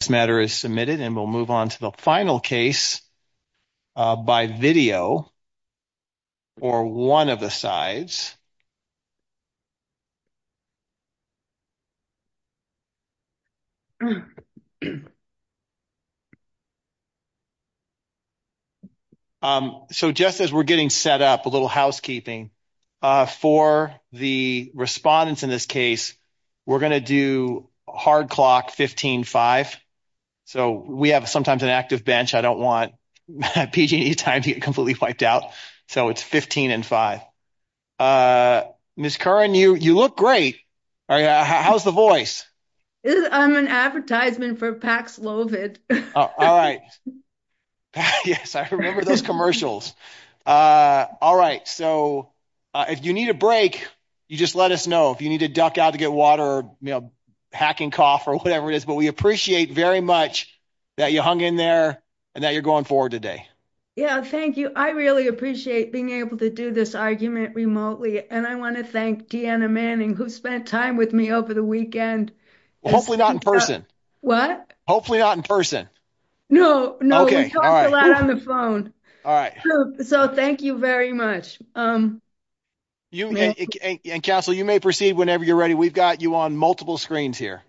This matter is submitted and we'll move on to the final case by video, or one of the sides. So just as we're getting set up a little housekeeping, for the respondents in this case, we're going to do hard clock 15-5. So we have sometimes an active bench. I don't want PG&E time to get completely wiped out. So it's 15-5. Ms. Curran, you look great. How's the voice? I'm an advertisement for Pax Lovett. All right. Yes, I remember those commercials. All right. So if you need a break, you just let us know if you need to duck out to get water or hacking cough or whatever it is. But we appreciate very much that you hung in there and that you're going forward today. Yeah, thank you. I really appreciate being able to do this argument remotely. And I want to thank Deanna Manning, who spent time with me over the weekend. Hopefully not in person. What? Hopefully not in person. No, no, we talked a lot on the phone. So thank you very much. And Castle, you may proceed whenever you're ready. We've got you on multiple screens here.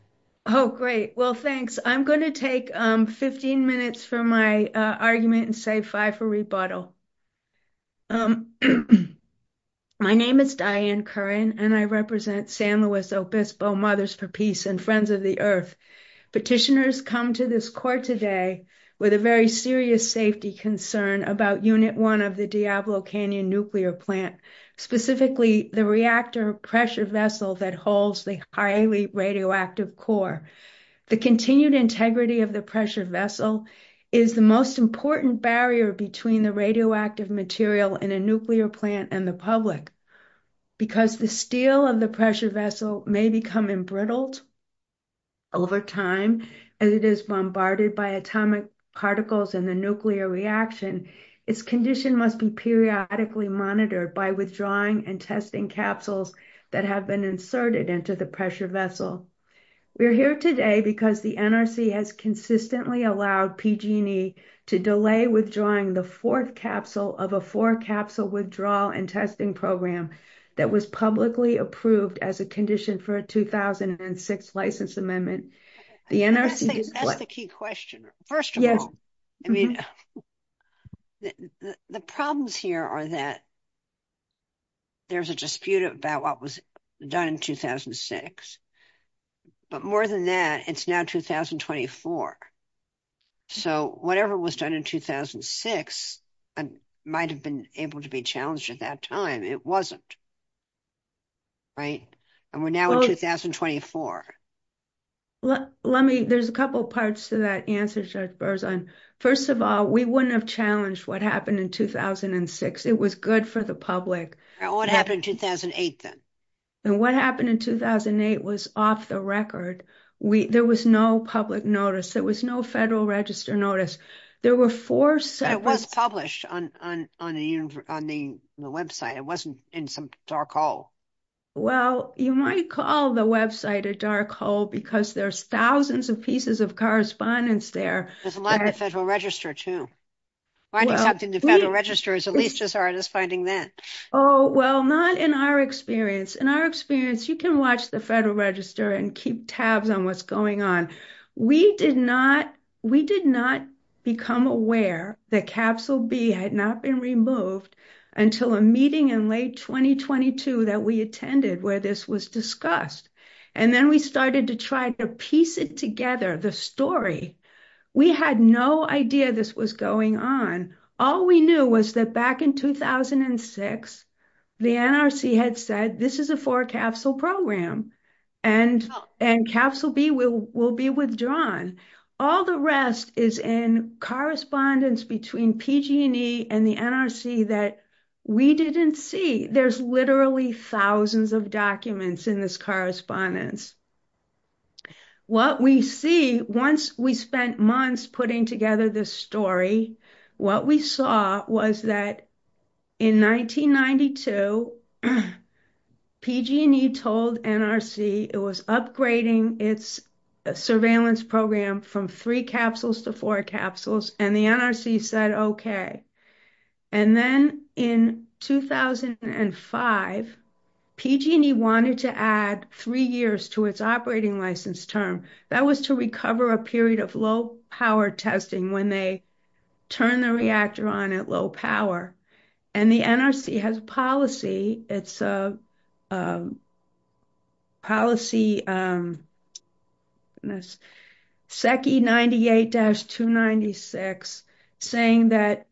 Oh, great. Well, thanks. I'm going to take 15 minutes for my argument and save five for rebuttal. My name is Diane Curran, and I represent San Luis Obispo Mothers for Peace and Friends of the Earth. Petitioners come to this court today with a very serious safety concern about Unit 1 of the Diablo Canyon nuclear plant, specifically the reactor pressure vessel that holds the highly radioactive core. The continued integrity of the pressure vessel is the most important barrier between the radioactive material in a nuclear plant and the public. Because the steel of the pressure vessel may become embrittled over time as it is bombarded by atomic particles in the reaction, its condition must be periodically monitored by withdrawing and testing capsules that have been inserted into the pressure vessel. We're here today because the NRC has consistently allowed PG&E to delay withdrawing the fourth capsule of a four-capsule withdrawal and testing program that was publicly approved as a condition for a 2006 license amendment. The NRC... That's the key question. First of all, I mean, the problems here are that there's a dispute about what was done in 2006. But more than that, it's now 2024. So whatever was done in 2006 might have been able to be challenged at that time. It wasn't. Right? And we're now in 2024. There's a couple parts to that answer, Judge Berzon. First of all, we wouldn't have challenged what happened in 2006. It was good for the public. What happened in 2008 then? And what happened in 2008 was off the record. There was no public notice. There was no Federal Register notice. There were four separate... It was published on the website. It wasn't in some dark hole. Well, you might call the website a dark hole because there's thousands of pieces of correspondence there. There's a lot in the Federal Register too. Finding something in the Federal Register is at least as hard as finding that. Oh, well, not in our experience. In our experience, you can watch the Federal Register and keep tabs on what's going on. We did not become aware that Capsule B had not been removed until a meeting in late 2022 that we attended where this was discussed. And then we started to try to piece it together, the story. We had no idea this was going on. All we knew was that back in 2006, the NRC had said, this is a four capsule program and Capsule B will be withdrawn. All the rest is in correspondence between PG&E and the NRC that we didn't see. There's literally thousands of documents in this correspondence. Once we spent months putting together this story, what we saw was that in 1992, PG&E told NRC it was upgrading its surveillance program from three capsules to four capsules and the NRC said, okay. And then in 2005, PG&E wanted to add three years to its operating license term. That was to recover a period of low power testing when they turned the reactor on at low power. And the NRC has a policy, it's a policy, SEC 98-296, saying that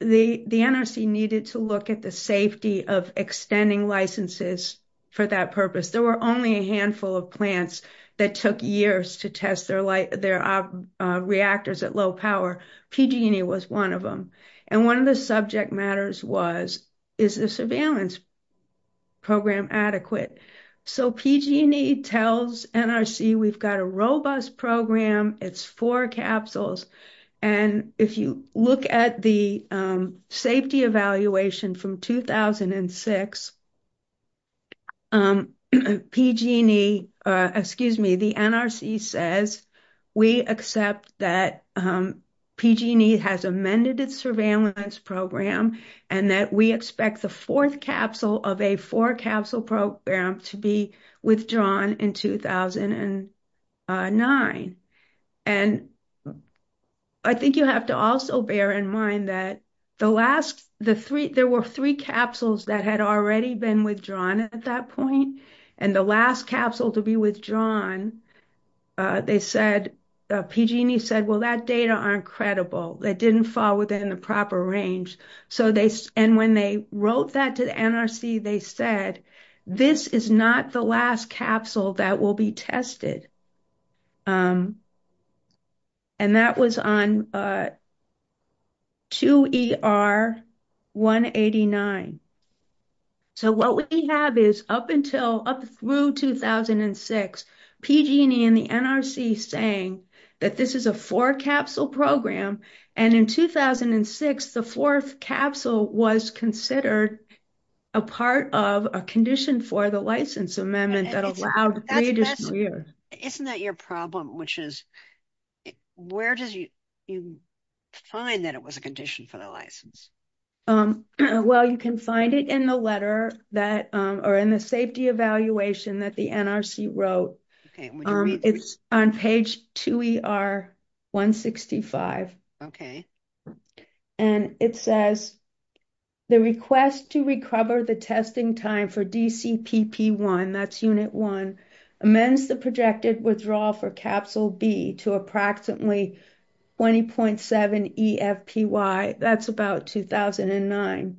the NRC needed to look at the safety of extending licenses for that purpose. There were only a handful of plants that took years to test their their reactors at low power. PG&E was one of them. And one of the subject matters was, is the surveillance program adequate? So PG&E tells NRC, we've got a robust program, it's four capsules. And if you look at the safety evaluation from 2006, PG&E, excuse me, the NRC says, we accept that PG&E has amended its surveillance program and that we expect the fourth capsule of a four-capsule program to be withdrawn in 2009. And I think you have to also bear in mind that the last, the three, there were three capsules that had already been withdrawn at that point. And the last capsule to be withdrawn, they said, PG&E said, well, that data aren't credible. They didn't fall within the proper range. So they, and when they wrote that to the NRC, they said, this is not the last capsule that will be tested. And that was on 2ER189. So what we have is up until, up through 2006, PG&E and the NRC saying that this is a four-capsule program. And in 2006, the fourth capsule was considered a part of a condition for the license amendment that allowed. Isn't that your problem, which is where does you find that it was a condition for the license? Well, you can find it in the letter that, or in the safety evaluation that the NRC wrote. It's on page 2ER165. And it says, the request to recover the testing time for DCPP1, that's unit one, amends the projected withdrawal for capsule B to approximately 20.7 eFPY. That's about 2009.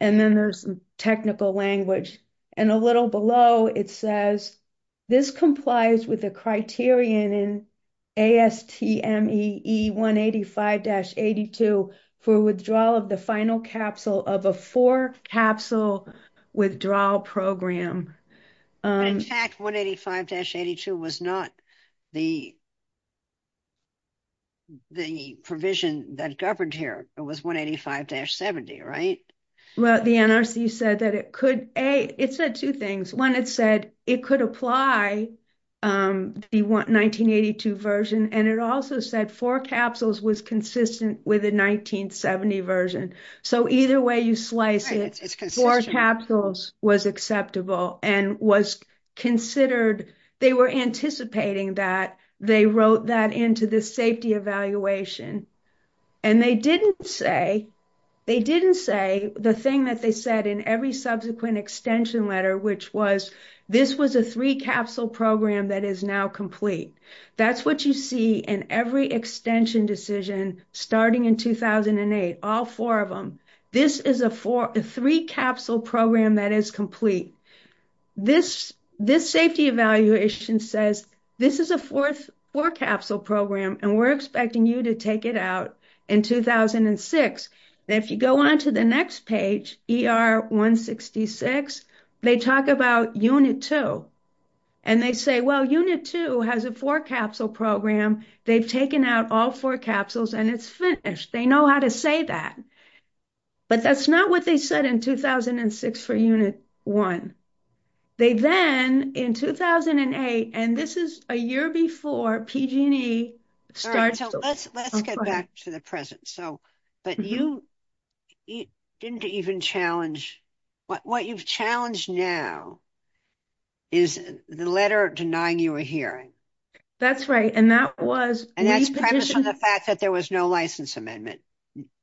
And then there's technical language. And a little below it says, this complies with the criterion in ASTM EE185-82 for withdrawal of the final capsule of a four-capsule withdrawal program. In fact, 185-82 was not the provision that governed here. It was 185-70, right? Well, the NRC said that it could, A, it said two things. One, it said it could apply the 1982 version. And it also said four capsules was consistent with the 1970 version. So either way you slice it, four capsules was acceptable and was considered, they were anticipating that they wrote that into the safety evaluation. And they didn't say, they didn't say the thing that they said in every subsequent extension letter, which was, this was a three-capsule program that is now complete. That's what you see in every extension decision starting in 2008, all four of them. This is a three-capsule program that is complete. This safety evaluation says, this is a four-capsule program, and we're expecting you to take it out in 2006. And if you go on to the next page, ER-166, they talk about unit two. And they say, well, unit two has a four-capsule program. They've taken out all four capsules and it's finished. They know how to say that. But that's not what they said in 2006 for unit one. They then, in 2008, and this is a year before PG&E started. So let's, let's get back to the present. So, but you didn't even challenge, what you've challenged now is the letter denying you a hearing. That's right. And that was, and that's premise on the fact that there was no license amendment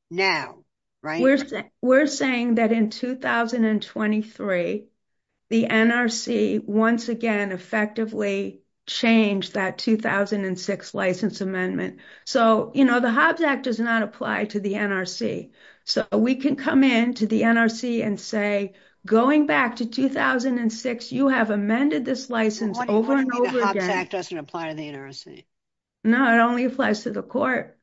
now, right? We're saying, we're saying that in 2023, the NRC once again effectively changed that 2006 license amendment. So, you know, the Hobbs Act does not apply to the NRC. So we can come in to the NRC and say, going back to 2006, you have amended this license over and over again. The Hobbs Act doesn't apply to the NRC. No, it only applies to the court.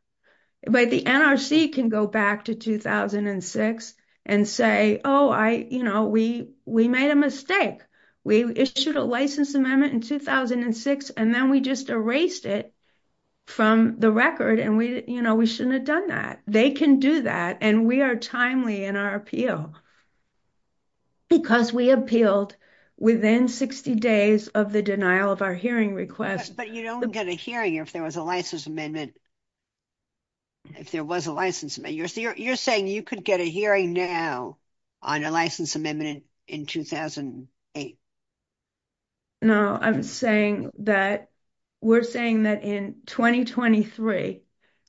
But the NRC can go back to 2006 and say, oh, I, you know, we, we made a mistake. We issued a license amendment in 2006. And then we just erased it from the record. And we, you know, we shouldn't have done that. They can do that. And we are timely in our appeal because we appealed within 60 days of the denial of our hearing request. But you don't get a hearing if there was a license amendment. If there was a license, you're saying you could get a hearing now on a license amendment in 2008. No, I'm saying that we're saying that in 2023,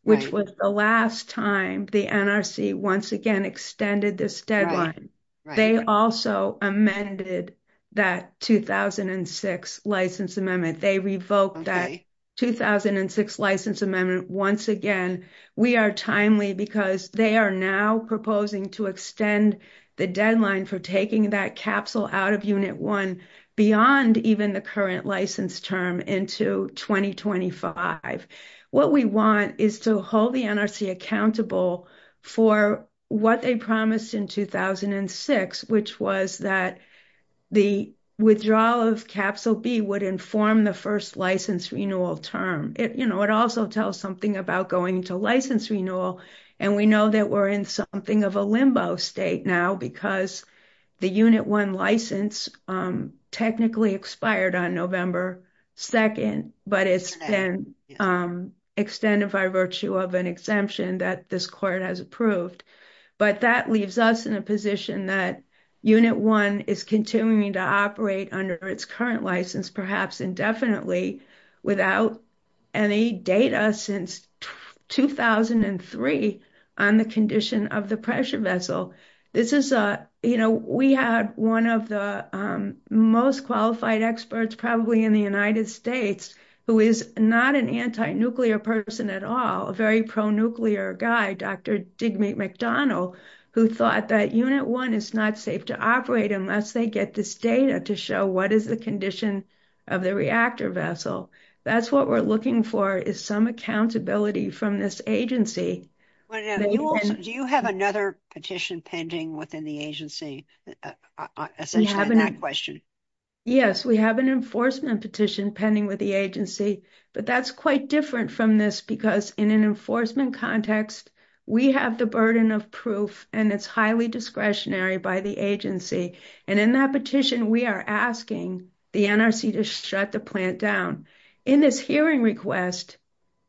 which was the last time the NRC once again extended this deadline. They also amended that 2006 license amendment. They revoked that 2006 license amendment once again. We are timely because they are now proposing to extend the deadline for taking that capsule out of Unit 1 beyond even the current license term into 2025. What we want is to hold the NRC accountable for what they promised in 2006, which was that the withdrawal of Capsule B would inform the first license renewal term. It, you know, it also tells something about going to license renewal. And we know that we're in something of a limbo state now because the Unit 1 license technically expired on November 2nd, but it's been extended by virtue of an exemption that this court has approved. But that leaves us in a position that Unit 1 is continuing to operate under its current license, perhaps indefinitely, without any data since 2003 on the condition of the pressure vessel. This is a, you know, we had one of the most qualified experts probably in the United States who is not an anti-nuclear person at all, a very pro-nuclear guy, Dr. Digby McDonald, who thought that Unit 1 is not safe to operate unless they get this data to show what is the condition of the reactor vessel. That's what we're looking for, is some accountability from this agency. Do you have another petition pending within the agency, essentially that question? Yes, we have an enforcement petition pending with the agency, but that's quite different from this because in an enforcement context, we have the burden of proof and it's highly discretionary by the agency. And in that petition, we are asking the NRC to shut the plant down. In this hearing request,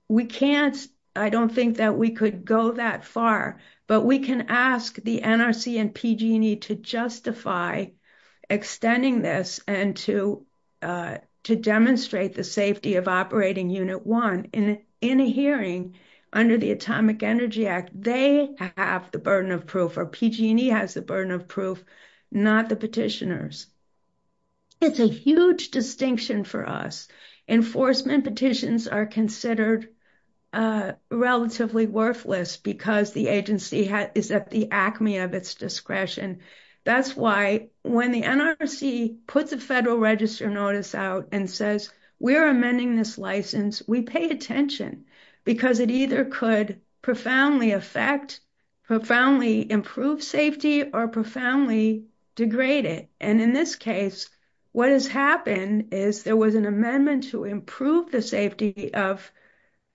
we can't, I don't think that we could go that far, but we can ask the NRC and PG&E to justify extending this and to demonstrate the safety of operating Unit 1. In a hearing under the Atomic Energy Act, they have the burden of not the petitioners. It's a huge distinction for us. Enforcement petitions are considered relatively worthless because the agency is at the acme of its discretion. That's why when the NRC puts a federal register notice out and says, we're amending this license, we pay attention because it either could profoundly improve safety or profoundly degrade it. And in this case, what has happened is there was an amendment to improve the safety of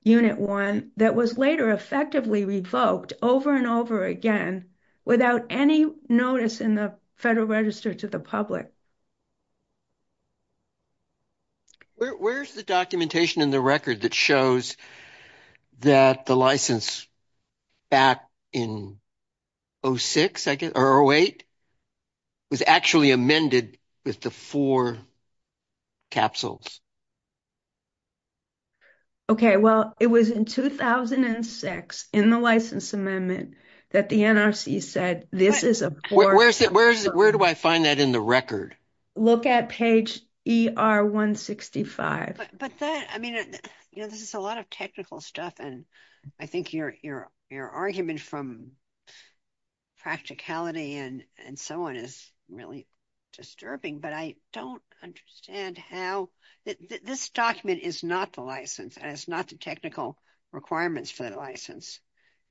Unit 1 that was later effectively revoked over and over again without any notice in the federal register to the public. Where's the documentation in the record that shows that the license back in 06, I guess, or 08, was actually amended with the four capsules? Okay, well, it was in 2006 in the license amendment that the NRC said, this is a poor. Where do I find that in the record? Look at page ER 165. But I mean, this is a lot of technical stuff. And I think your argument from practicality and so on is really disturbing, but I don't understand how this document is not the license and it's not the technical requirements for the license.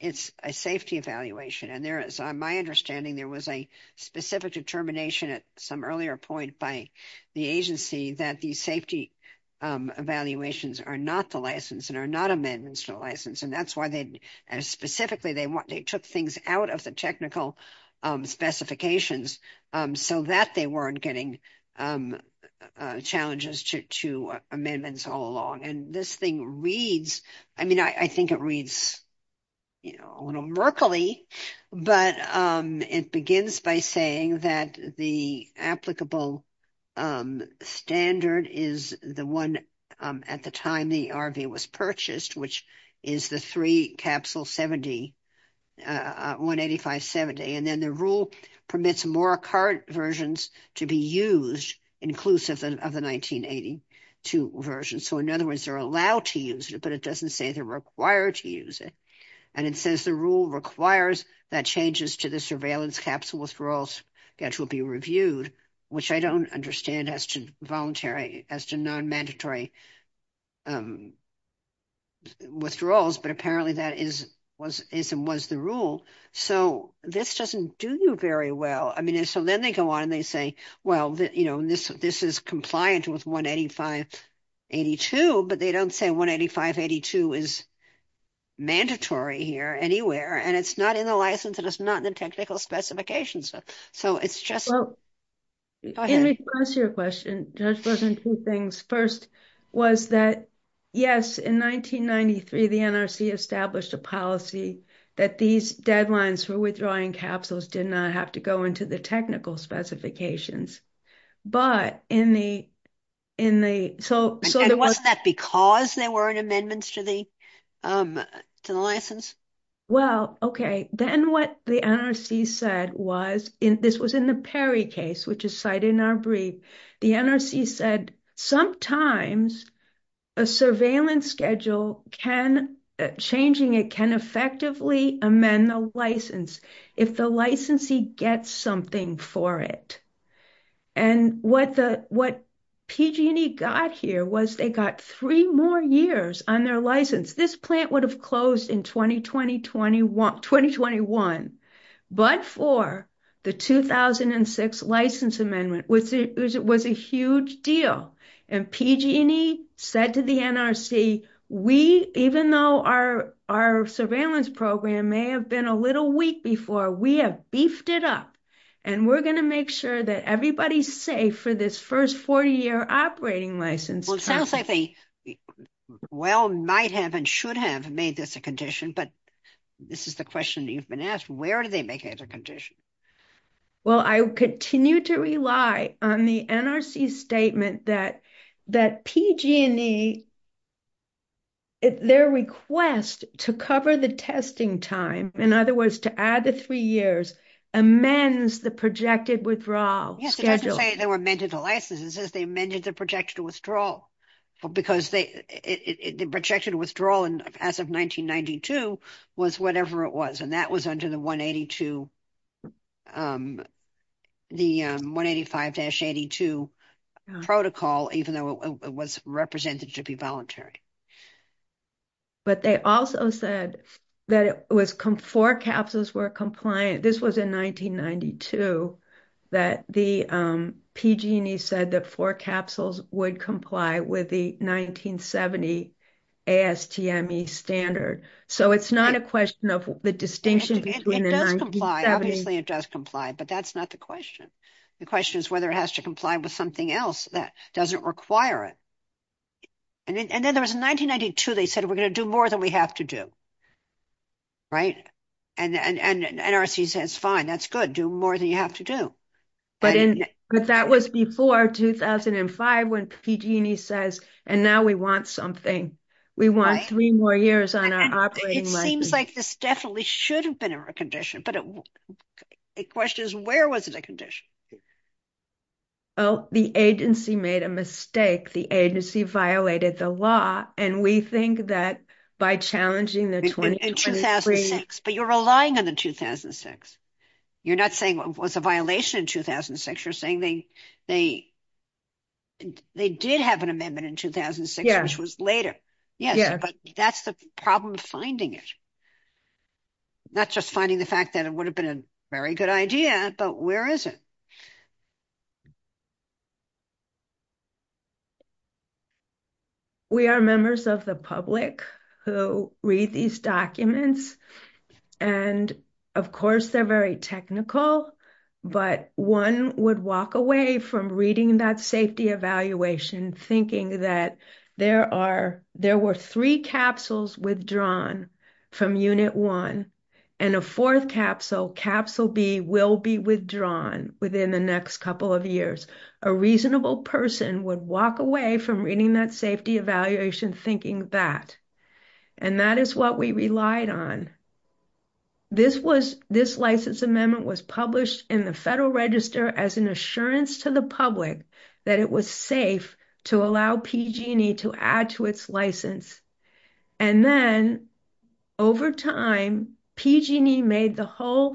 It's a safety evaluation. And there is, on my understanding, there was a specific determination at some earlier point by the agency that these safety evaluations are not the license and are not amendments to the license. And that's why, specifically, they took things out of the technical specifications so that they weren't getting challenges to amendments all along. This thing reads, I mean, I think it reads, you know, a little Merkley, but it begins by saying that the applicable standard is the one at the time the RV was purchased, which is the three capsule 70, 18570. And then the rule permits more current versions to be used inclusive of the 1982 version. So, in other words, they're allowed to use it, but it doesn't say they're required to use it. And it says the rule requires that changes to the surveillance capsule withdrawals schedule be reviewed, which I don't understand as to voluntary, as to non-mandatory withdrawals, but apparently that is and was the rule. So, this doesn't do you very well. I mean, so then they go on and they say, well, you know, this is compliant with 18582, but they don't say 18582 is mandatory here anywhere. And it's not in the license and it's not in the technical specifications. So, it's just. Go ahead. In response to your question, Judge Berkman, two things. First was that, yes, in 1993, the NRC established a policy that these deadlines for withdrawing capsules did not have to go into the technical specifications. But in the, in the, so. And wasn't that because there weren't amendments to the, to the license? Well, okay. Then what the NRC said was, this was in the Perry case, which is cited in our brief, the NRC said sometimes a surveillance schedule can, changing it can effectively amend the license if the licensee gets something for it. And what the, what PG&E got here was they got three more years on their license. This plant would have closed in 2020, 2021, but for the 2006 license amendment, which was a huge deal. And PG&E said to the NRC, we, even though our, our surveillance program may have been a little weak before, we have beefed it up and we're going to make sure that everybody's safe for this first 40 year operating license. Well, it sounds like they well, might have and should have made this a condition, but this is the question you've been Where did they make it a condition? Well, I continue to rely on the NRC statement that, that PG&E, their request to cover the testing time, in other words, to add the three years, amends the projected withdrawal schedule. Yes, it doesn't say they were amended the license, it says they amended the projected withdrawal because they, the projected withdrawal as of 1992 was whatever it was. And that was under the 182, the 185-82 protocol, even though it was represented to be voluntary. But they also said that it was four capsules were compliant. This was in 1992 that the PG&E said that four capsules would comply with the 1970 ASTME standard. So it's not a question of the distinction. It does comply, obviously it does comply, but that's not the question. The question is whether it has to comply with something else that doesn't require it. And then there was in 1992, they said, we're going to do more than we have to do. Right. And NRC says, fine, that's good. Do more than you have to do. But that was before 2005 when PG&E says, and now we want something. We want three more years on our operating license. It seems like this definitely should have been a recondition, but the question is, where was it a condition? Oh, the agency made a mistake. The agency violated the law. And we think that by challenging the 20- In 2006. But you're relying on the 2006. You're not saying it was a violation in 2006. You're saying they did have an amendment in 2006, which was later. Yes, but that's the problem of finding it. Not just finding the fact that it would have been a very good idea, but where is it? We are members of the public who read these documents. And of course, they're very technical, but one would walk away from reading that safety evaluation thinking that there were three capsules withdrawn from unit one and a fourth capsule, capsule B, will be withdrawn within the next safety evaluation thinking that. And that is what we relied on. This license amendment was published in the Federal Register as an assurance to the public that it was safe to allow PG&E to add to its license. And then over time, PG&E made the whole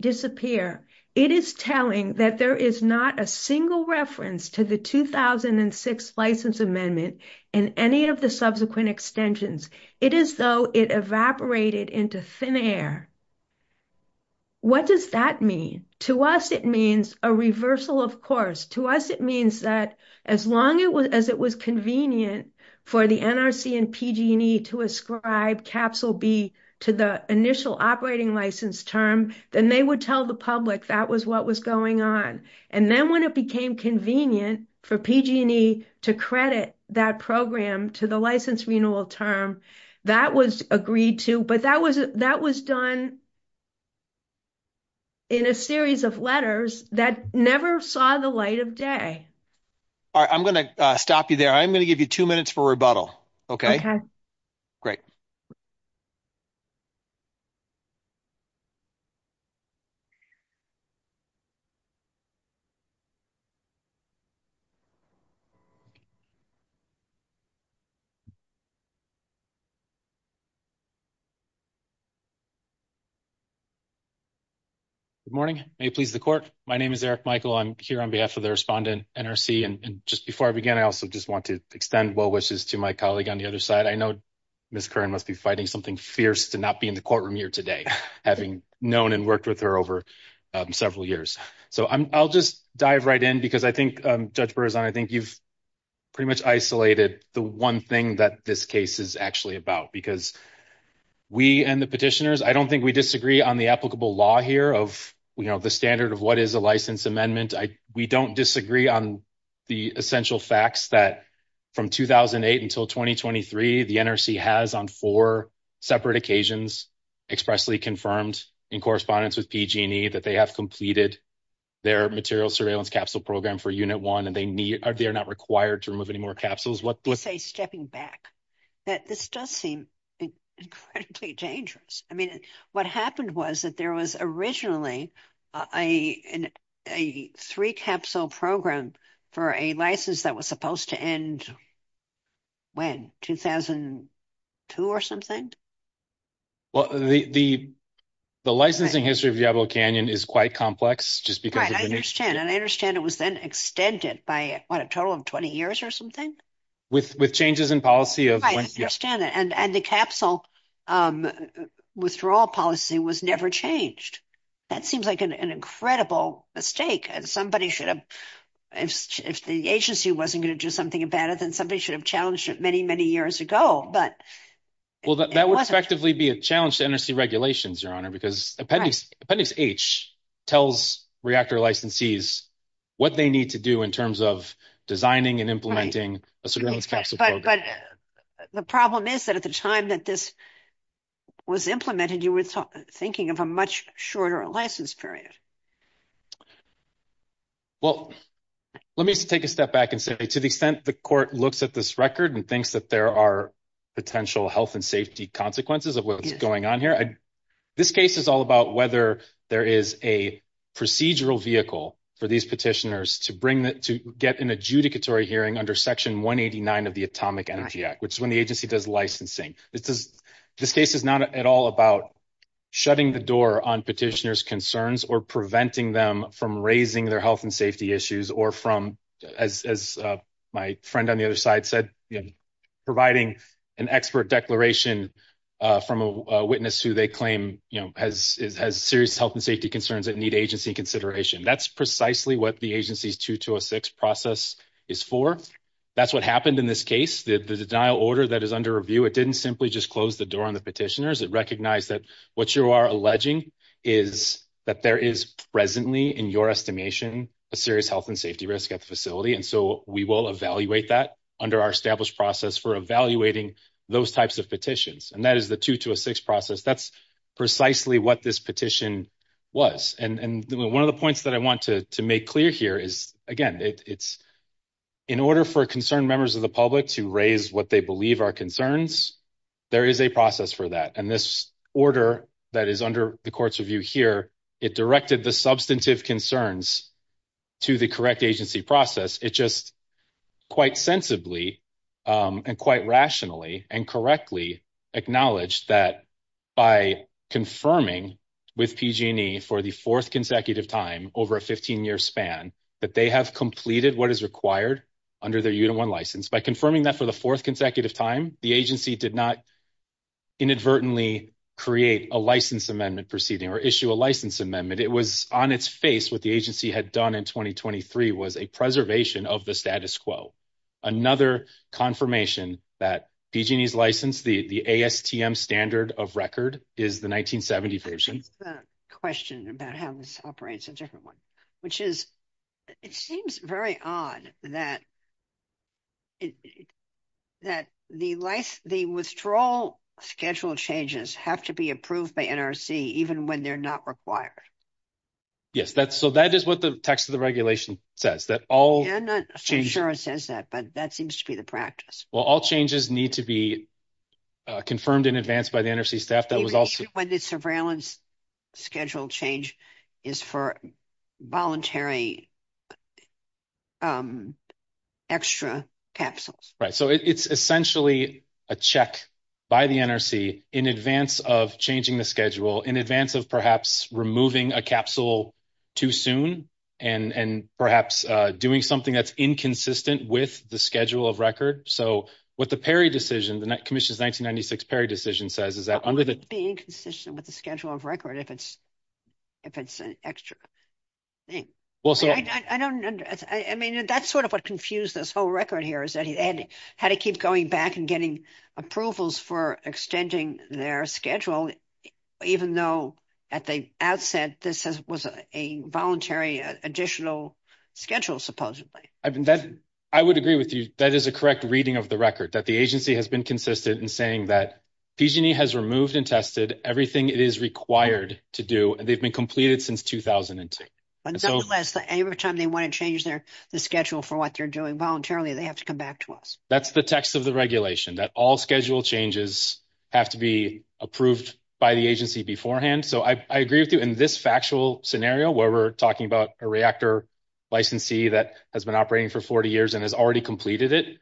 disappear. It is telling that there is not a single reference to the 2006 license amendment and any of the subsequent extensions. It is though it evaporated into thin air. What does that mean? To us, it means a reversal of course. To us, it means that as long as it was convenient for the NRC and PG&E to ascribe capsule B to the initial operating license term, then they would tell the public that was what was going on. And then when it became convenient for PG&E to credit that program to the license renewal term, that was agreed to, but that was done in a series of letters that never saw the light of day. All right. I'm going to stop you there. I'm going to give you two minutes for rebuttal. Okay. Great. Good morning. May it please the court. My name is Eric Michael. I'm here on behalf of the NRC. And just before I begin, I also just want to extend well wishes to my colleague on the other side. I know Ms. Curran must be fighting something fierce to not be in the courtroom here today, having known and worked with her over several years. So I'll just dive right in because I think Judge Berzon, I think you've pretty much isolated the one thing that this case is actually about, because we and the petitioners, I don't think we disagree on the applicable law here of, you know, the standard of what is a license amendment. We don't disagree on the essential facts that from 2008 until 2023, the NRC has on four separate occasions expressly confirmed in correspondence with PG&E that they have completed their material surveillance capsule program for Unit 1 and they need, or they're not required to remove any more capsules. You say stepping back. This does seem incredibly dangerous. I mean, what happened was that there was originally a three-capsule program for a license that was supposed to end when? 2002 or something? Well, the licensing history of Diablo Canyon is quite complex just because of the- Right, I understand. And I understand it was then extended by, what, a total of 20 years or something? With changes in policy of- I understand that. And the capsule withdrawal policy was never changed. That seems like an incredible mistake. Somebody should have, if the agency wasn't going to do something about it, then somebody should have challenged it many, many years ago, but- Well, that would effectively be a challenge to NRC regulations, Your Honor, because Appendix H tells reactor licensees what they need to do in terms of designing and implementing a surveillance capsule program. But the problem is that at the time that this was implemented, you were thinking of a much shorter license period. Well, let me take a step back and say, to the extent the Court looks at this record and thinks that there are potential health and safety consequences of what's going on here, this case is all about whether there is a procedural vehicle for these petitioners to bring the- to get an adjudicatory hearing under Section 189 of the Atomic Energy Act, which is when the agency does licensing. This case is not at all about shutting the door on petitioners' concerns or preventing them from raising their health and safety issues or from, as my friend on the other side said, providing an expert declaration from a witness who they claim has serious health and safety concerns that need agency consideration. That's precisely what the agency's 2206 process is for. That's what happened in this case. The denial order that is under review, it didn't simply just close the door on the petitioners. It recognized that what you are alleging is that there is presently, in your estimation, a serious health and safety risk at the facility, and so we will evaluate that under our established process for evaluating those types of petitions. And that is the 226 process. That's precisely what this petition was. And one of the points that I in order for concerned members of the public to raise what they believe are concerns, there is a process for that. And this order that is under the Court's review here, it directed the substantive concerns to the correct agency process. It just quite sensibly and quite rationally and correctly acknowledged that by confirming with PG&E for the fourth under their unit one license. By confirming that for the fourth consecutive time, the agency did not inadvertently create a license amendment proceeding or issue a license amendment. It was on its face what the agency had done in 2023 was a preservation of the status quo. Another confirmation that PG&E's license, the ASTM standard of record, is the 1970 version. Question about how this operates a different one, which is it seems very odd that that the withdrawal schedule changes have to be approved by NRC even when they're not required. Yes, that's so that is what the text of the regulation says that all change. Sure, it says that, but that seems to be the practice. Well, all changes need to be confirmed in advance by the NRC staff that was also. Surveillance schedule change is for voluntary extra capsules, right? So it's essentially a check by the NRC in advance of changing the schedule in advance of perhaps removing a capsule too soon and perhaps doing something that's inconsistent with the schedule of record. So what the Perry decision, the Commission's 1996 Perry decision says is that under the being consistent with the schedule of record, if it's an extra thing. I mean, that's sort of what confused this whole record here is that he had to keep going back and getting approvals for extending their schedule, even though at the outset, this was a voluntary additional schedule, supposedly. I would agree with you. That is a has removed and tested everything it is required to do, and they've been completed since 2002. And so every time they want to change their schedule for what they're doing voluntarily, they have to come back to us. That's the text of the regulation that all schedule changes have to be approved by the agency beforehand. So I agree with you in this factual scenario, where we're talking about a reactor licensee that has been operating for 40 years and has completed it.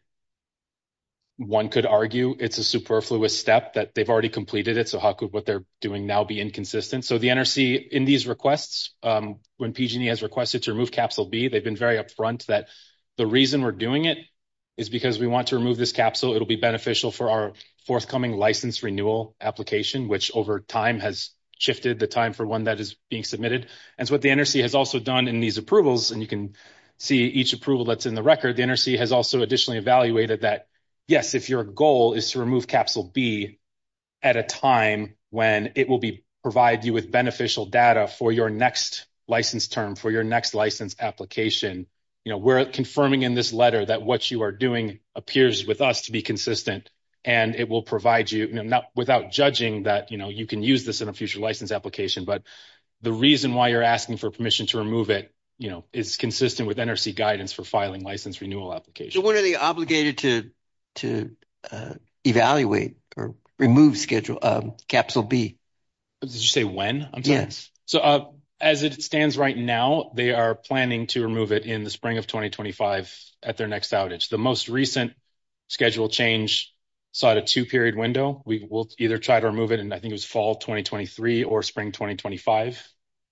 One could argue it's a superfluous step that they've already completed it. So how could what they're doing now be inconsistent? So the NRC in these requests, when PG&E has requested to remove capsule B, they've been very upfront that the reason we're doing it is because we want to remove this capsule. It'll be beneficial for our forthcoming license renewal application, which over time has shifted the time for one that is being submitted. And so what the NRC has also done in these approvals, and you can see each approval that's in the record, the NRC has also additionally evaluated that, yes, if your goal is to remove capsule B at a time when it will provide you with beneficial data for your next license term, for your next license application, we're confirming in this letter that what you are doing appears with us to be consistent, and it will provide you, without judging that you can use this in a future license application, but the reason why you're asking for permission to remove is consistent with NRC guidance for filing license renewal applications. So when are they obligated to evaluate or remove capsule B? Did you say when? Yes. So as it stands right now, they are planning to remove it in the spring of 2025 at their next outage. The most recent schedule change saw a two-period window. We will either try to remove it in, I think it was fall 2023 or spring 2025,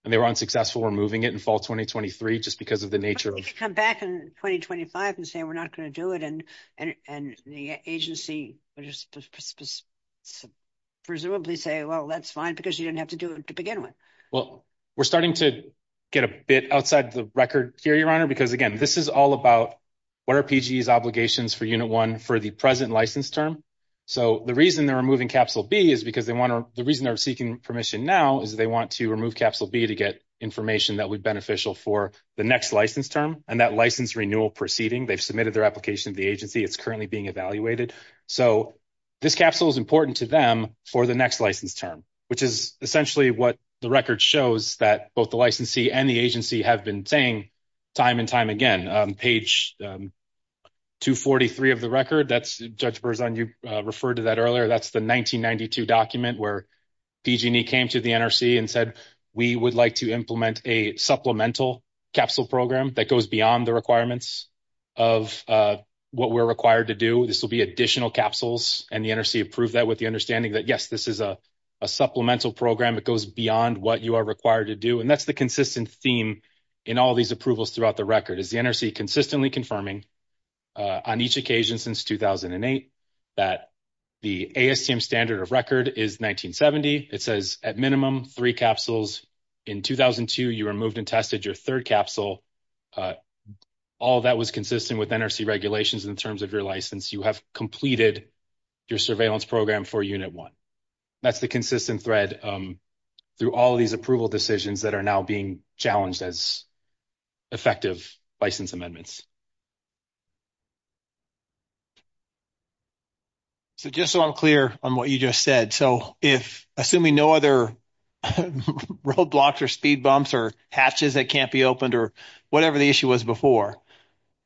and they were unsuccessful removing it in fall 2023 just because of the nature of... You can come back in 2025 and say, we're not going to do it, and the agency will just presumably say, well, that's fine, because you didn't have to do it to begin with. Well, we're starting to get a bit outside the record here, Your Honor, because again, this is all about what are PGE's obligations for Unit 1 the present license term. So the reason they're removing capsule B is because they want to... The reason they're seeking permission now is they want to remove capsule B to get information that would be beneficial for the next license term and that license renewal proceeding. They've submitted their application to the agency. It's currently being evaluated. So this capsule is important to them for the next license term, which is essentially what the record shows that both the licensee and the agency have been saying time and time again. Page 243 of the record, that's... Judge Berzon, you referred to that earlier. That's the 1992 document where PG&E came to the NRC and said, we would like to implement a supplemental capsule program that goes beyond the requirements of what we're required to do. This will be additional capsules, and the NRC approved that with the understanding that, yes, this is a supplemental program. It goes beyond what you are required to do. And that's the NRC consistently confirming on each occasion since 2008 that the ASTM standard of record is 1970. It says at minimum three capsules. In 2002, you removed and tested your third capsule. All of that was consistent with NRC regulations in terms of your license. You have completed your surveillance program for unit one. That's the consistent thread through all these approval decisions that are now being challenged as effective license amendments. So just so I'm clear on what you just said, so if, assuming no other roadblocks or speed bumps or hatches that can't be opened or whatever the issue was before,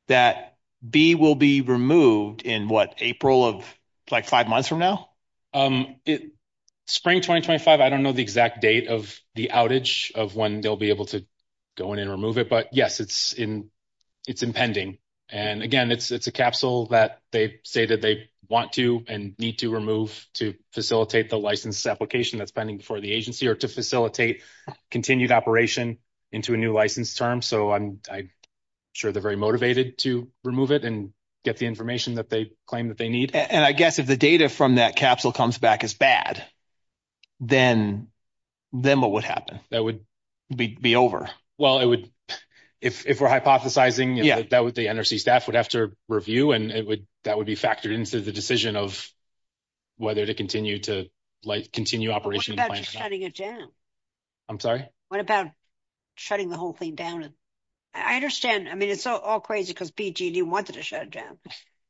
that B will be removed in what, April of like five months from now? Spring 2025, I don't know the exact date of the outage of when they'll be able to go in and remove it. But yes, it's impending. And again, it's a capsule that they say that they want to and need to remove to facilitate the license application that's pending before the agency or to facilitate continued operation into a new license term. So I'm sure they're very motivated to remove it and get the information that they need. And I guess if the data from that capsule comes back as bad, then what would happen? That would be over. Well, it would, if we're hypothesizing, the NRC staff would have to review and that would be factored into the decision of whether to continue to continue operation. What about shutting it down? I'm sorry? What about shutting the whole thing down? I understand. I mean, it's all crazy because BGD wanted to shut it down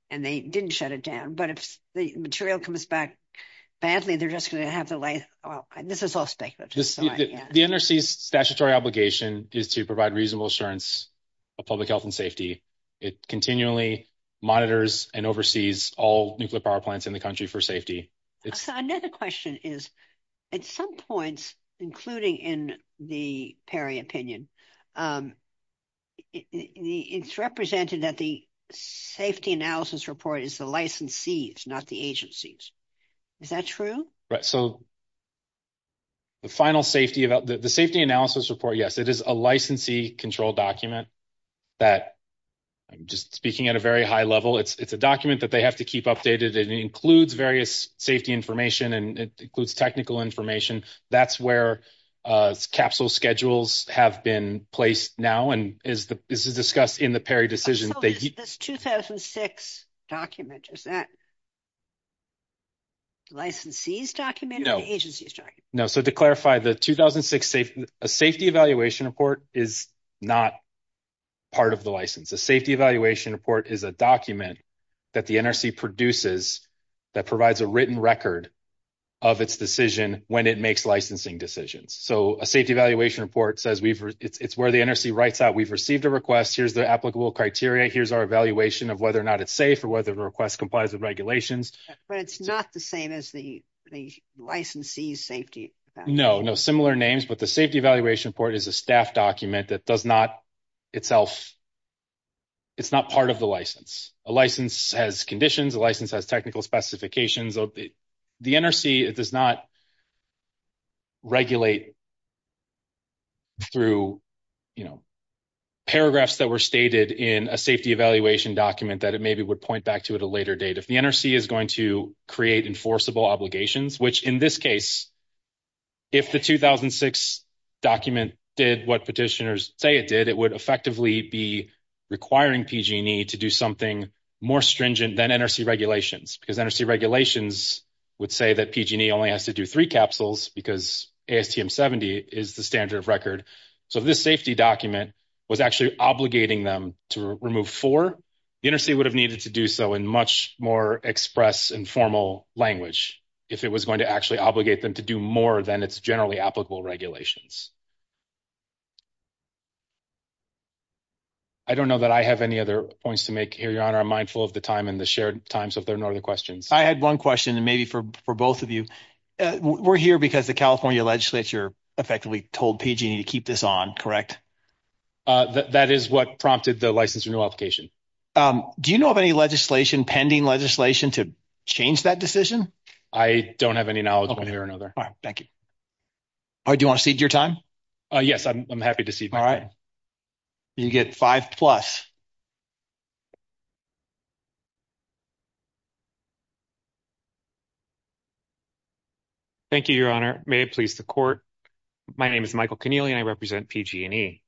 and they didn't shut it down. But if the material comes back badly, they're just going to have to lay off. This is all speculative. The NRC's statutory obligation is to provide reasonable assurance of public health and safety. It continually monitors and oversees all nuclear power plants in the country for safety. So another question is, at some points, including in the PERI opinion, it's represented that the safety analysis report is the licensees, not the agencies. Is that true? Right. So the final safety, the safety analysis report, yes, it is a licensee-controlled document that, just speaking at a very high level, it's a document that they have to keep updated. It includes various safety information and it includes technical information. That's where capsule schedules have been placed now and this is discussed in the PERI decision. So this 2006 document, is that licensee's document or the agency's document? No. So to clarify, the 2006 safety evaluation report is not part of the license. The safety evaluation report is a document that the NRC produces that provides a written record of its decision when it makes licensing decisions. So a safety evaluation report says we've, it's where the NRC writes out, we've received a request, here's the applicable criteria, here's our evaluation of whether or not it's safe or whether the request complies with regulations. But it's not the same as the licensee's safety? No, no similar names, but the safety evaluation report is a staff document that does not itself, it's not part of the license. A license has conditions, a license has technical specifications. The NRC, it does not regulate through, you know, paragraphs that were stated in a safety evaluation document that it maybe would point back to at a later date. If the NRC is going to create enforceable obligations, which in this case, if the 2006 document did what petitioners say it did, it would effectively be requiring PG&E to do something more stringent than NRC regulations because NRC regulations would say that PG&E only has to do three capsules because ASTM 70 is the standard of record. So this safety document was actually obligating them to remove four. The NRC would have needed to do so in much more express and formal language if it was going to actually obligate them to do more than its generally applicable regulations. I don't know that I have any other points to make here, your honor. I'm mindful of the time and the shared times of there are no other questions. I had one question and maybe for both of you. We're here because the California legislature effectively told PG&E to keep this on, correct? That is what prompted the license renewal application. Do you know of any legislation, pending legislation to change that decision? I don't have any knowledge one way or another. Thank you. Do you want to cede your time? Yes, I'm happy to cede my time. You get five plus. Thank you, your honor. May it please the court. My name is Michael Keneally and I represent PG&E.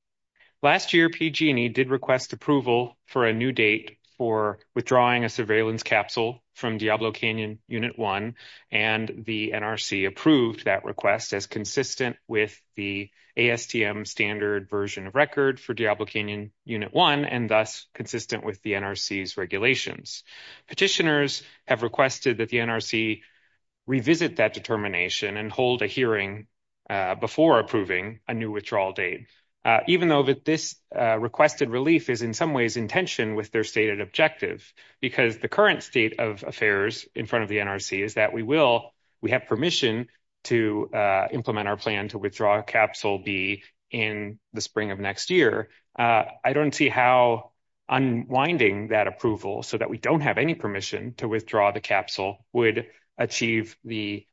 Last year, PG&E did request approval for a new date for withdrawing a surveillance capsule from Diablo Canyon Unit 1 and the NRC approved that request as consistent with the ASTM standard version of record for Diablo Canyon Unit 1 and thus consistent with the NRC's regulations. Petitioners have requested that the NRC revisit that determination and hold a hearing before approving a new withdrawal date, even though that this requested relief is in some tension with their stated objective because the current state of affairs in front of the NRC is that we have permission to implement our plan to withdraw capsule B in the spring of next year. I don't see how unwinding that approval so that we don't have any permission to withdraw the capsule would achieve the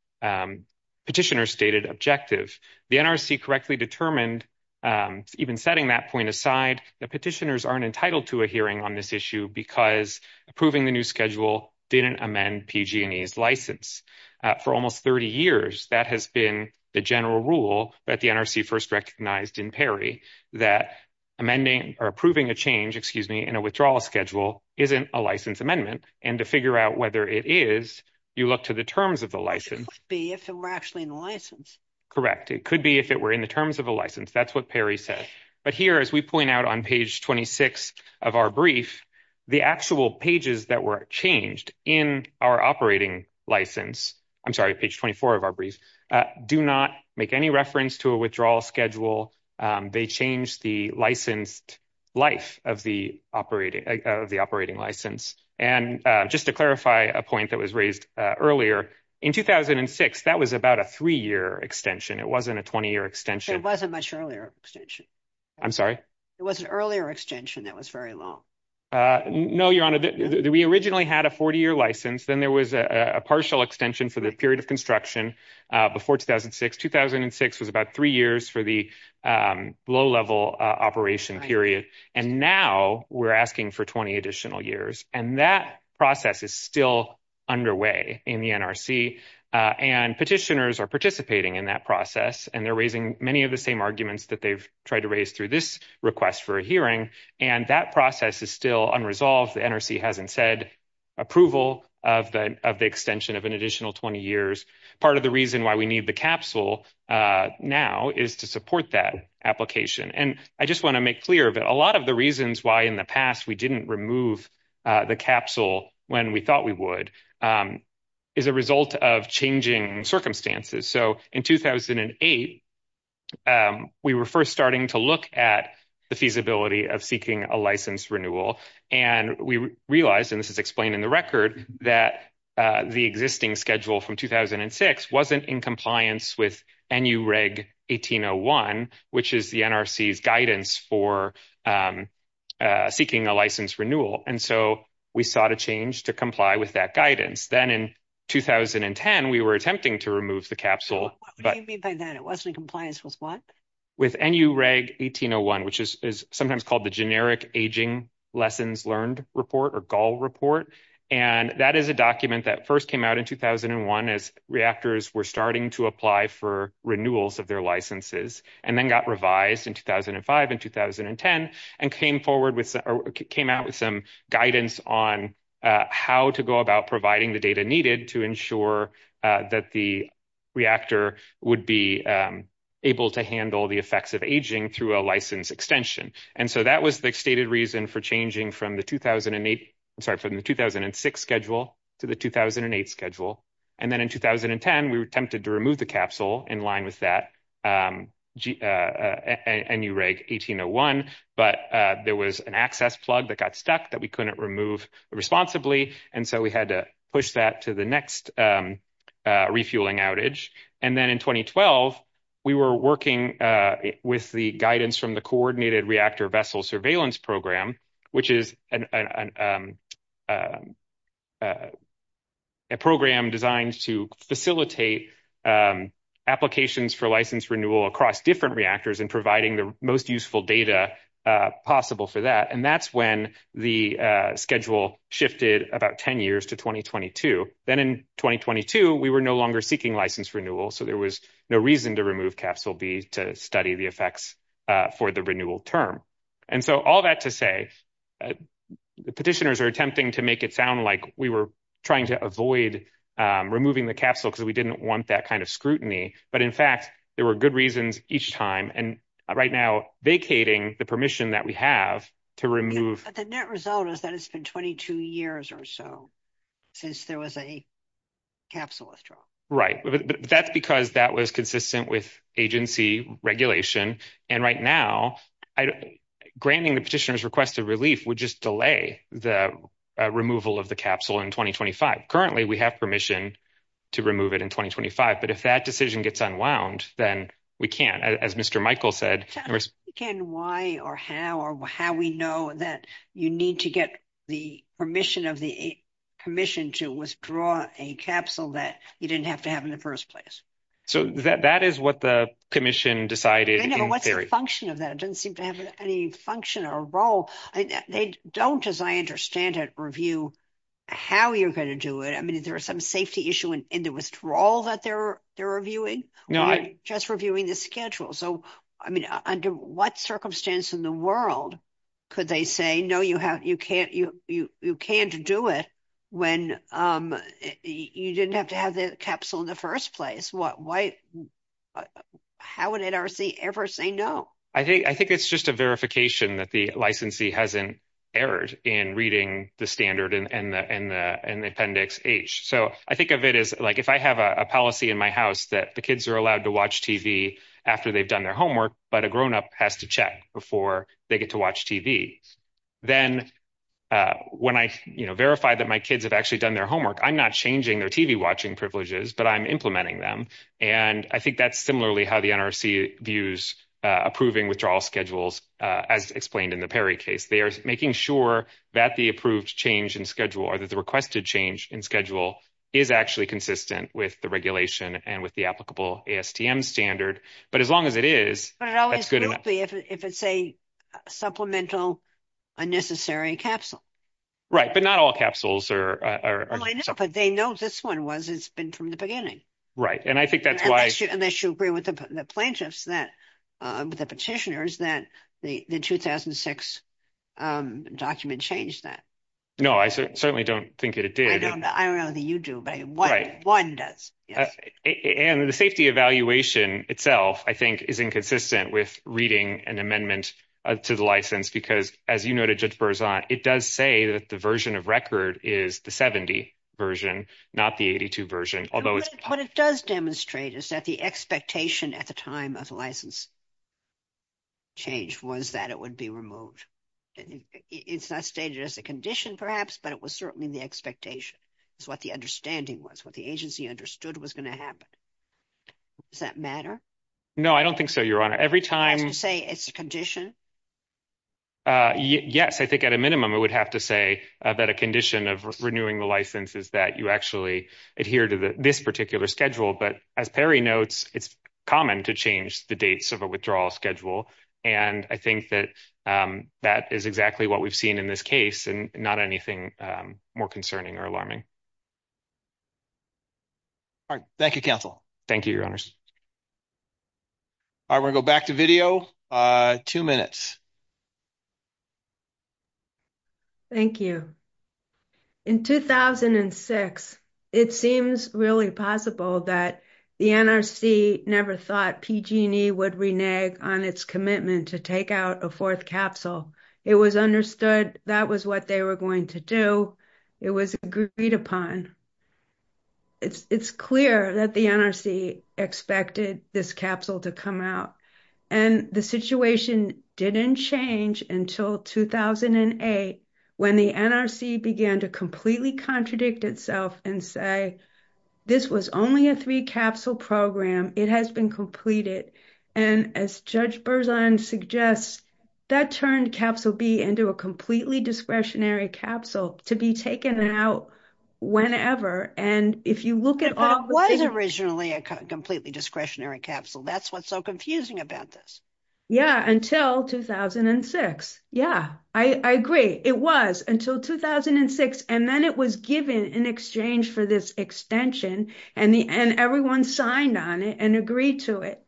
petitioner's stated objective. The NRC correctly determined, even setting that point aside, that petitioners aren't entitled to a hearing on this issue because approving the new schedule didn't amend PG&E's license. For almost 30 years, that has been the general rule that the NRC first recognized in Perry that amending or approving a change, excuse me, in a withdrawal schedule isn't a license amendment and to figure out whether it is, you look to the terms of the license. It could be if it were actually in the license. Correct. It could be if it were in the terms of a license. That's what Perry said. But here, as we point out on page 26 of our brief, the actual pages that were changed in our operating license, I'm sorry, page 24 of our brief, do not make any reference to a withdrawal schedule. They changed the licensed life of the operating license. And just to clarify a point that was raised earlier, in 2006, that was about a three-year extension. It wasn't a 20-year extension. It wasn't much earlier extension. I'm sorry? It was an earlier extension that was very long. No, Your Honor. We originally had a 40-year license. Then there was a partial extension for the period of construction before 2006. 2006 was about three years for the low-level operation period. And now we're asking for 20 additional years. And that process is still underway in the NRC. And petitioners are participating in that process. And they're raising many of the same arguments that they've tried to raise through this request for a hearing. And that process is still unresolved. The NRC hasn't said approval of the extension of an additional 20 years. Part of the reason why we need the capsule now is to support that application. And I just want to make clear that a lot of the reasons why in the past we didn't remove the capsule when we thought we would is a result of changing circumstances. So in 2008, we were first starting to look at the feasibility of seeking a license renewal. And we realized, and this is explained in the record, that the existing schedule from 2006 wasn't in compliance with NUREG 1801, which is the NRC's guidance for seeking a license renewal. And so we sought a change to comply with that guidance. Then in 2010, we were attempting to remove the capsule. What do you mean by that? It wasn't in compliance with what? With NUREG 1801, which is sometimes called the Generic Aging Lessons Learned Report or GAL report. And that is a document that first came out in 2001 as reactors were starting to apply for renewals of their licenses and then got revised in 2005 and 2010 and came forward with came out with some guidance on how to go about providing the data needed to ensure that the reactor would be able to handle the effects of aging through a license extension. And so that was the stated reason for changing from the 2008, I'm sorry, from the 2006 schedule to the 2008 schedule. And then in 2010, we were tempted to remove the capsule in line with that NUREG 1801, but there was an access plug that got stuck that we couldn't remove responsibly. And so we had to push that to the next refueling outage. And then in 2012, we were working with the guidance from the Coordinated Reactor Vessel Surveillance Program, which is a program designed to facilitate applications for license renewal across different reactors and providing the most useful data possible for that. And that's when the schedule shifted about 10 years to 2022. Then in 2022, we were no longer seeking license renewal, so there was no reason to remove capsule B to study the effects for the renewal term. And so all that to say, the petitioners are attempting to make it sound like we were trying to avoid removing the capsule because we didn't want that kind of scrutiny. But in fact, there were good reasons each time and right now vacating the permission that we have to remove. But the net result is that it's been 22 years or so since there was a capsule withdrawal. Right, but that's because that was consistent with agency regulation. And right now, granting the petitioners request of relief would just delay the removal of the capsule in 2025. Currently, we have permission to remove it in 2025, but if that decision gets unwound, then we can't, as Mr. Michael said. Can why or how or how we know that you need to get the permission of the commission to withdraw a capsule that you didn't have to have in the first place? So that is what the commission decided. What's the function of that? It doesn't seem to have any function or role. They don't, as I understand it, review how you're going to do it. I mean, is there some safety issue in the withdrawal that they're reviewing? No, just reviewing the schedule. So, I mean, under what circumstance in the world could they say, no, you can't do it when you didn't have to have the capsule in the first place? How would NRC ever say no? I think it's just a verification that the licensee hasn't erred in reading the standard and the appendix H. So I think of it as, like, if I have a policy in my house that the kids are allowed to watch TV after they've done their homework, but a grown-up has to check before they get to watch TV, then when I, you know, verify that my kids have actually done their homework, I'm not changing their TV-watching privileges, but I'm implementing them. And I think that's similarly how the NRC views approving withdrawal schedules, as explained in the Perry case. They are making sure that the approved change in schedule or that the requested change in schedule is actually consistent with the regulation and with the applicable ASTM standard. But as long as it is, that's good enough. But it always will be if it's a supplemental unnecessary capsule. Right, but not all capsules are. Well, I know, but they know this one was, it's been from the beginning. Right, and I think that's why. Unless you agree with the plaintiffs that, the petitioners, that the 2006 document changed that. No, I certainly don't think that it did. I don't know that you do, but one does. And the safety evaluation itself, I think, is inconsistent with reading an amendment to the license, because as you noted, Judge Berzant, it does say that the version of record is the 70 version, not the 82 version, although it's. What it does demonstrate is that the expectation at the time of the license change was that it would be removed. It's not stated as a condition, perhaps, but it was certainly the expectation. That's what the understanding was, what the agency understood was going to happen. Does that matter? No, I don't think so, Your Honor. Every time. As you say, it's a condition? Yes, I think at a minimum, it would have to say that a condition of renewing the license is that you actually adhere to this particular schedule. But as Perry notes, it's common to change the dates of a withdrawal schedule. And I think that that is exactly what we've seen in this case, not anything more concerning or alarming. All right. Thank you, counsel. Thank you, Your Honors. All right. We'll go back to video. Two minutes. Thank you. In 2006, it seems really possible that the NRC never thought PG&E would renege on its commitment to take out a fourth capsule. It was understood that was what they were going to do. It was agreed upon. It's clear that the NRC expected this capsule to come out. And the situation didn't change until 2008 when the NRC began to completely contradict itself and say this was only a three-capsule program. It has been completed. And as Judge Berzahn suggests, that turned Capsule B into a completely discretionary capsule to be taken out whenever. And if you look at all... It was originally a completely discretionary capsule. That's what's so confusing about this. Yeah, until 2006. Yeah, I agree. It was until 2006. And then it was given in exchange for this extension and everyone signed on it and agreed to it.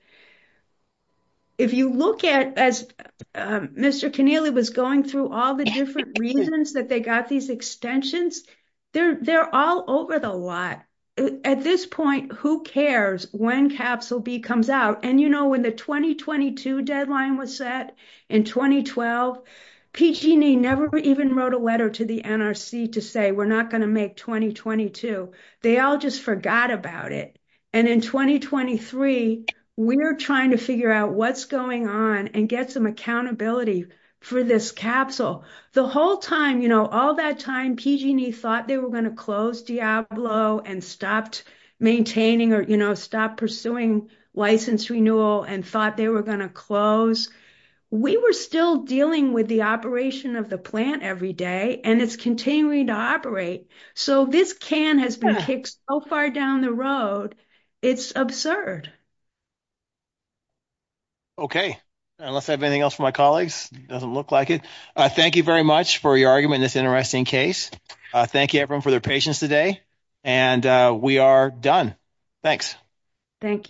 If you look at as Mr. Keneally was going through all the different reasons that they got these extensions, they're all over the lot. At this point, who cares when Capsule B comes out? And when the 2022 deadline was set in 2012, PG&E never even wrote a letter to the NRC to say we're not going to make 2022. They all just forgot about it. And in 2023, we're trying to figure out what's going on and get some accountability for this capsule. The whole time, all that time, PG&E thought they were going to close Diablo and stopped maintaining or stopped pursuing license renewal and thought they were going to close. We were still dealing with the operation of the plant every day and it's continuing to operate. So this can has been kicked so far down the road, it's absurd. Okay. Unless I have anything else for my colleagues, it doesn't look like it. Thank you very much for your argument in this interesting case. Thank you everyone for your patience today and we are done. Thanks. Thank you.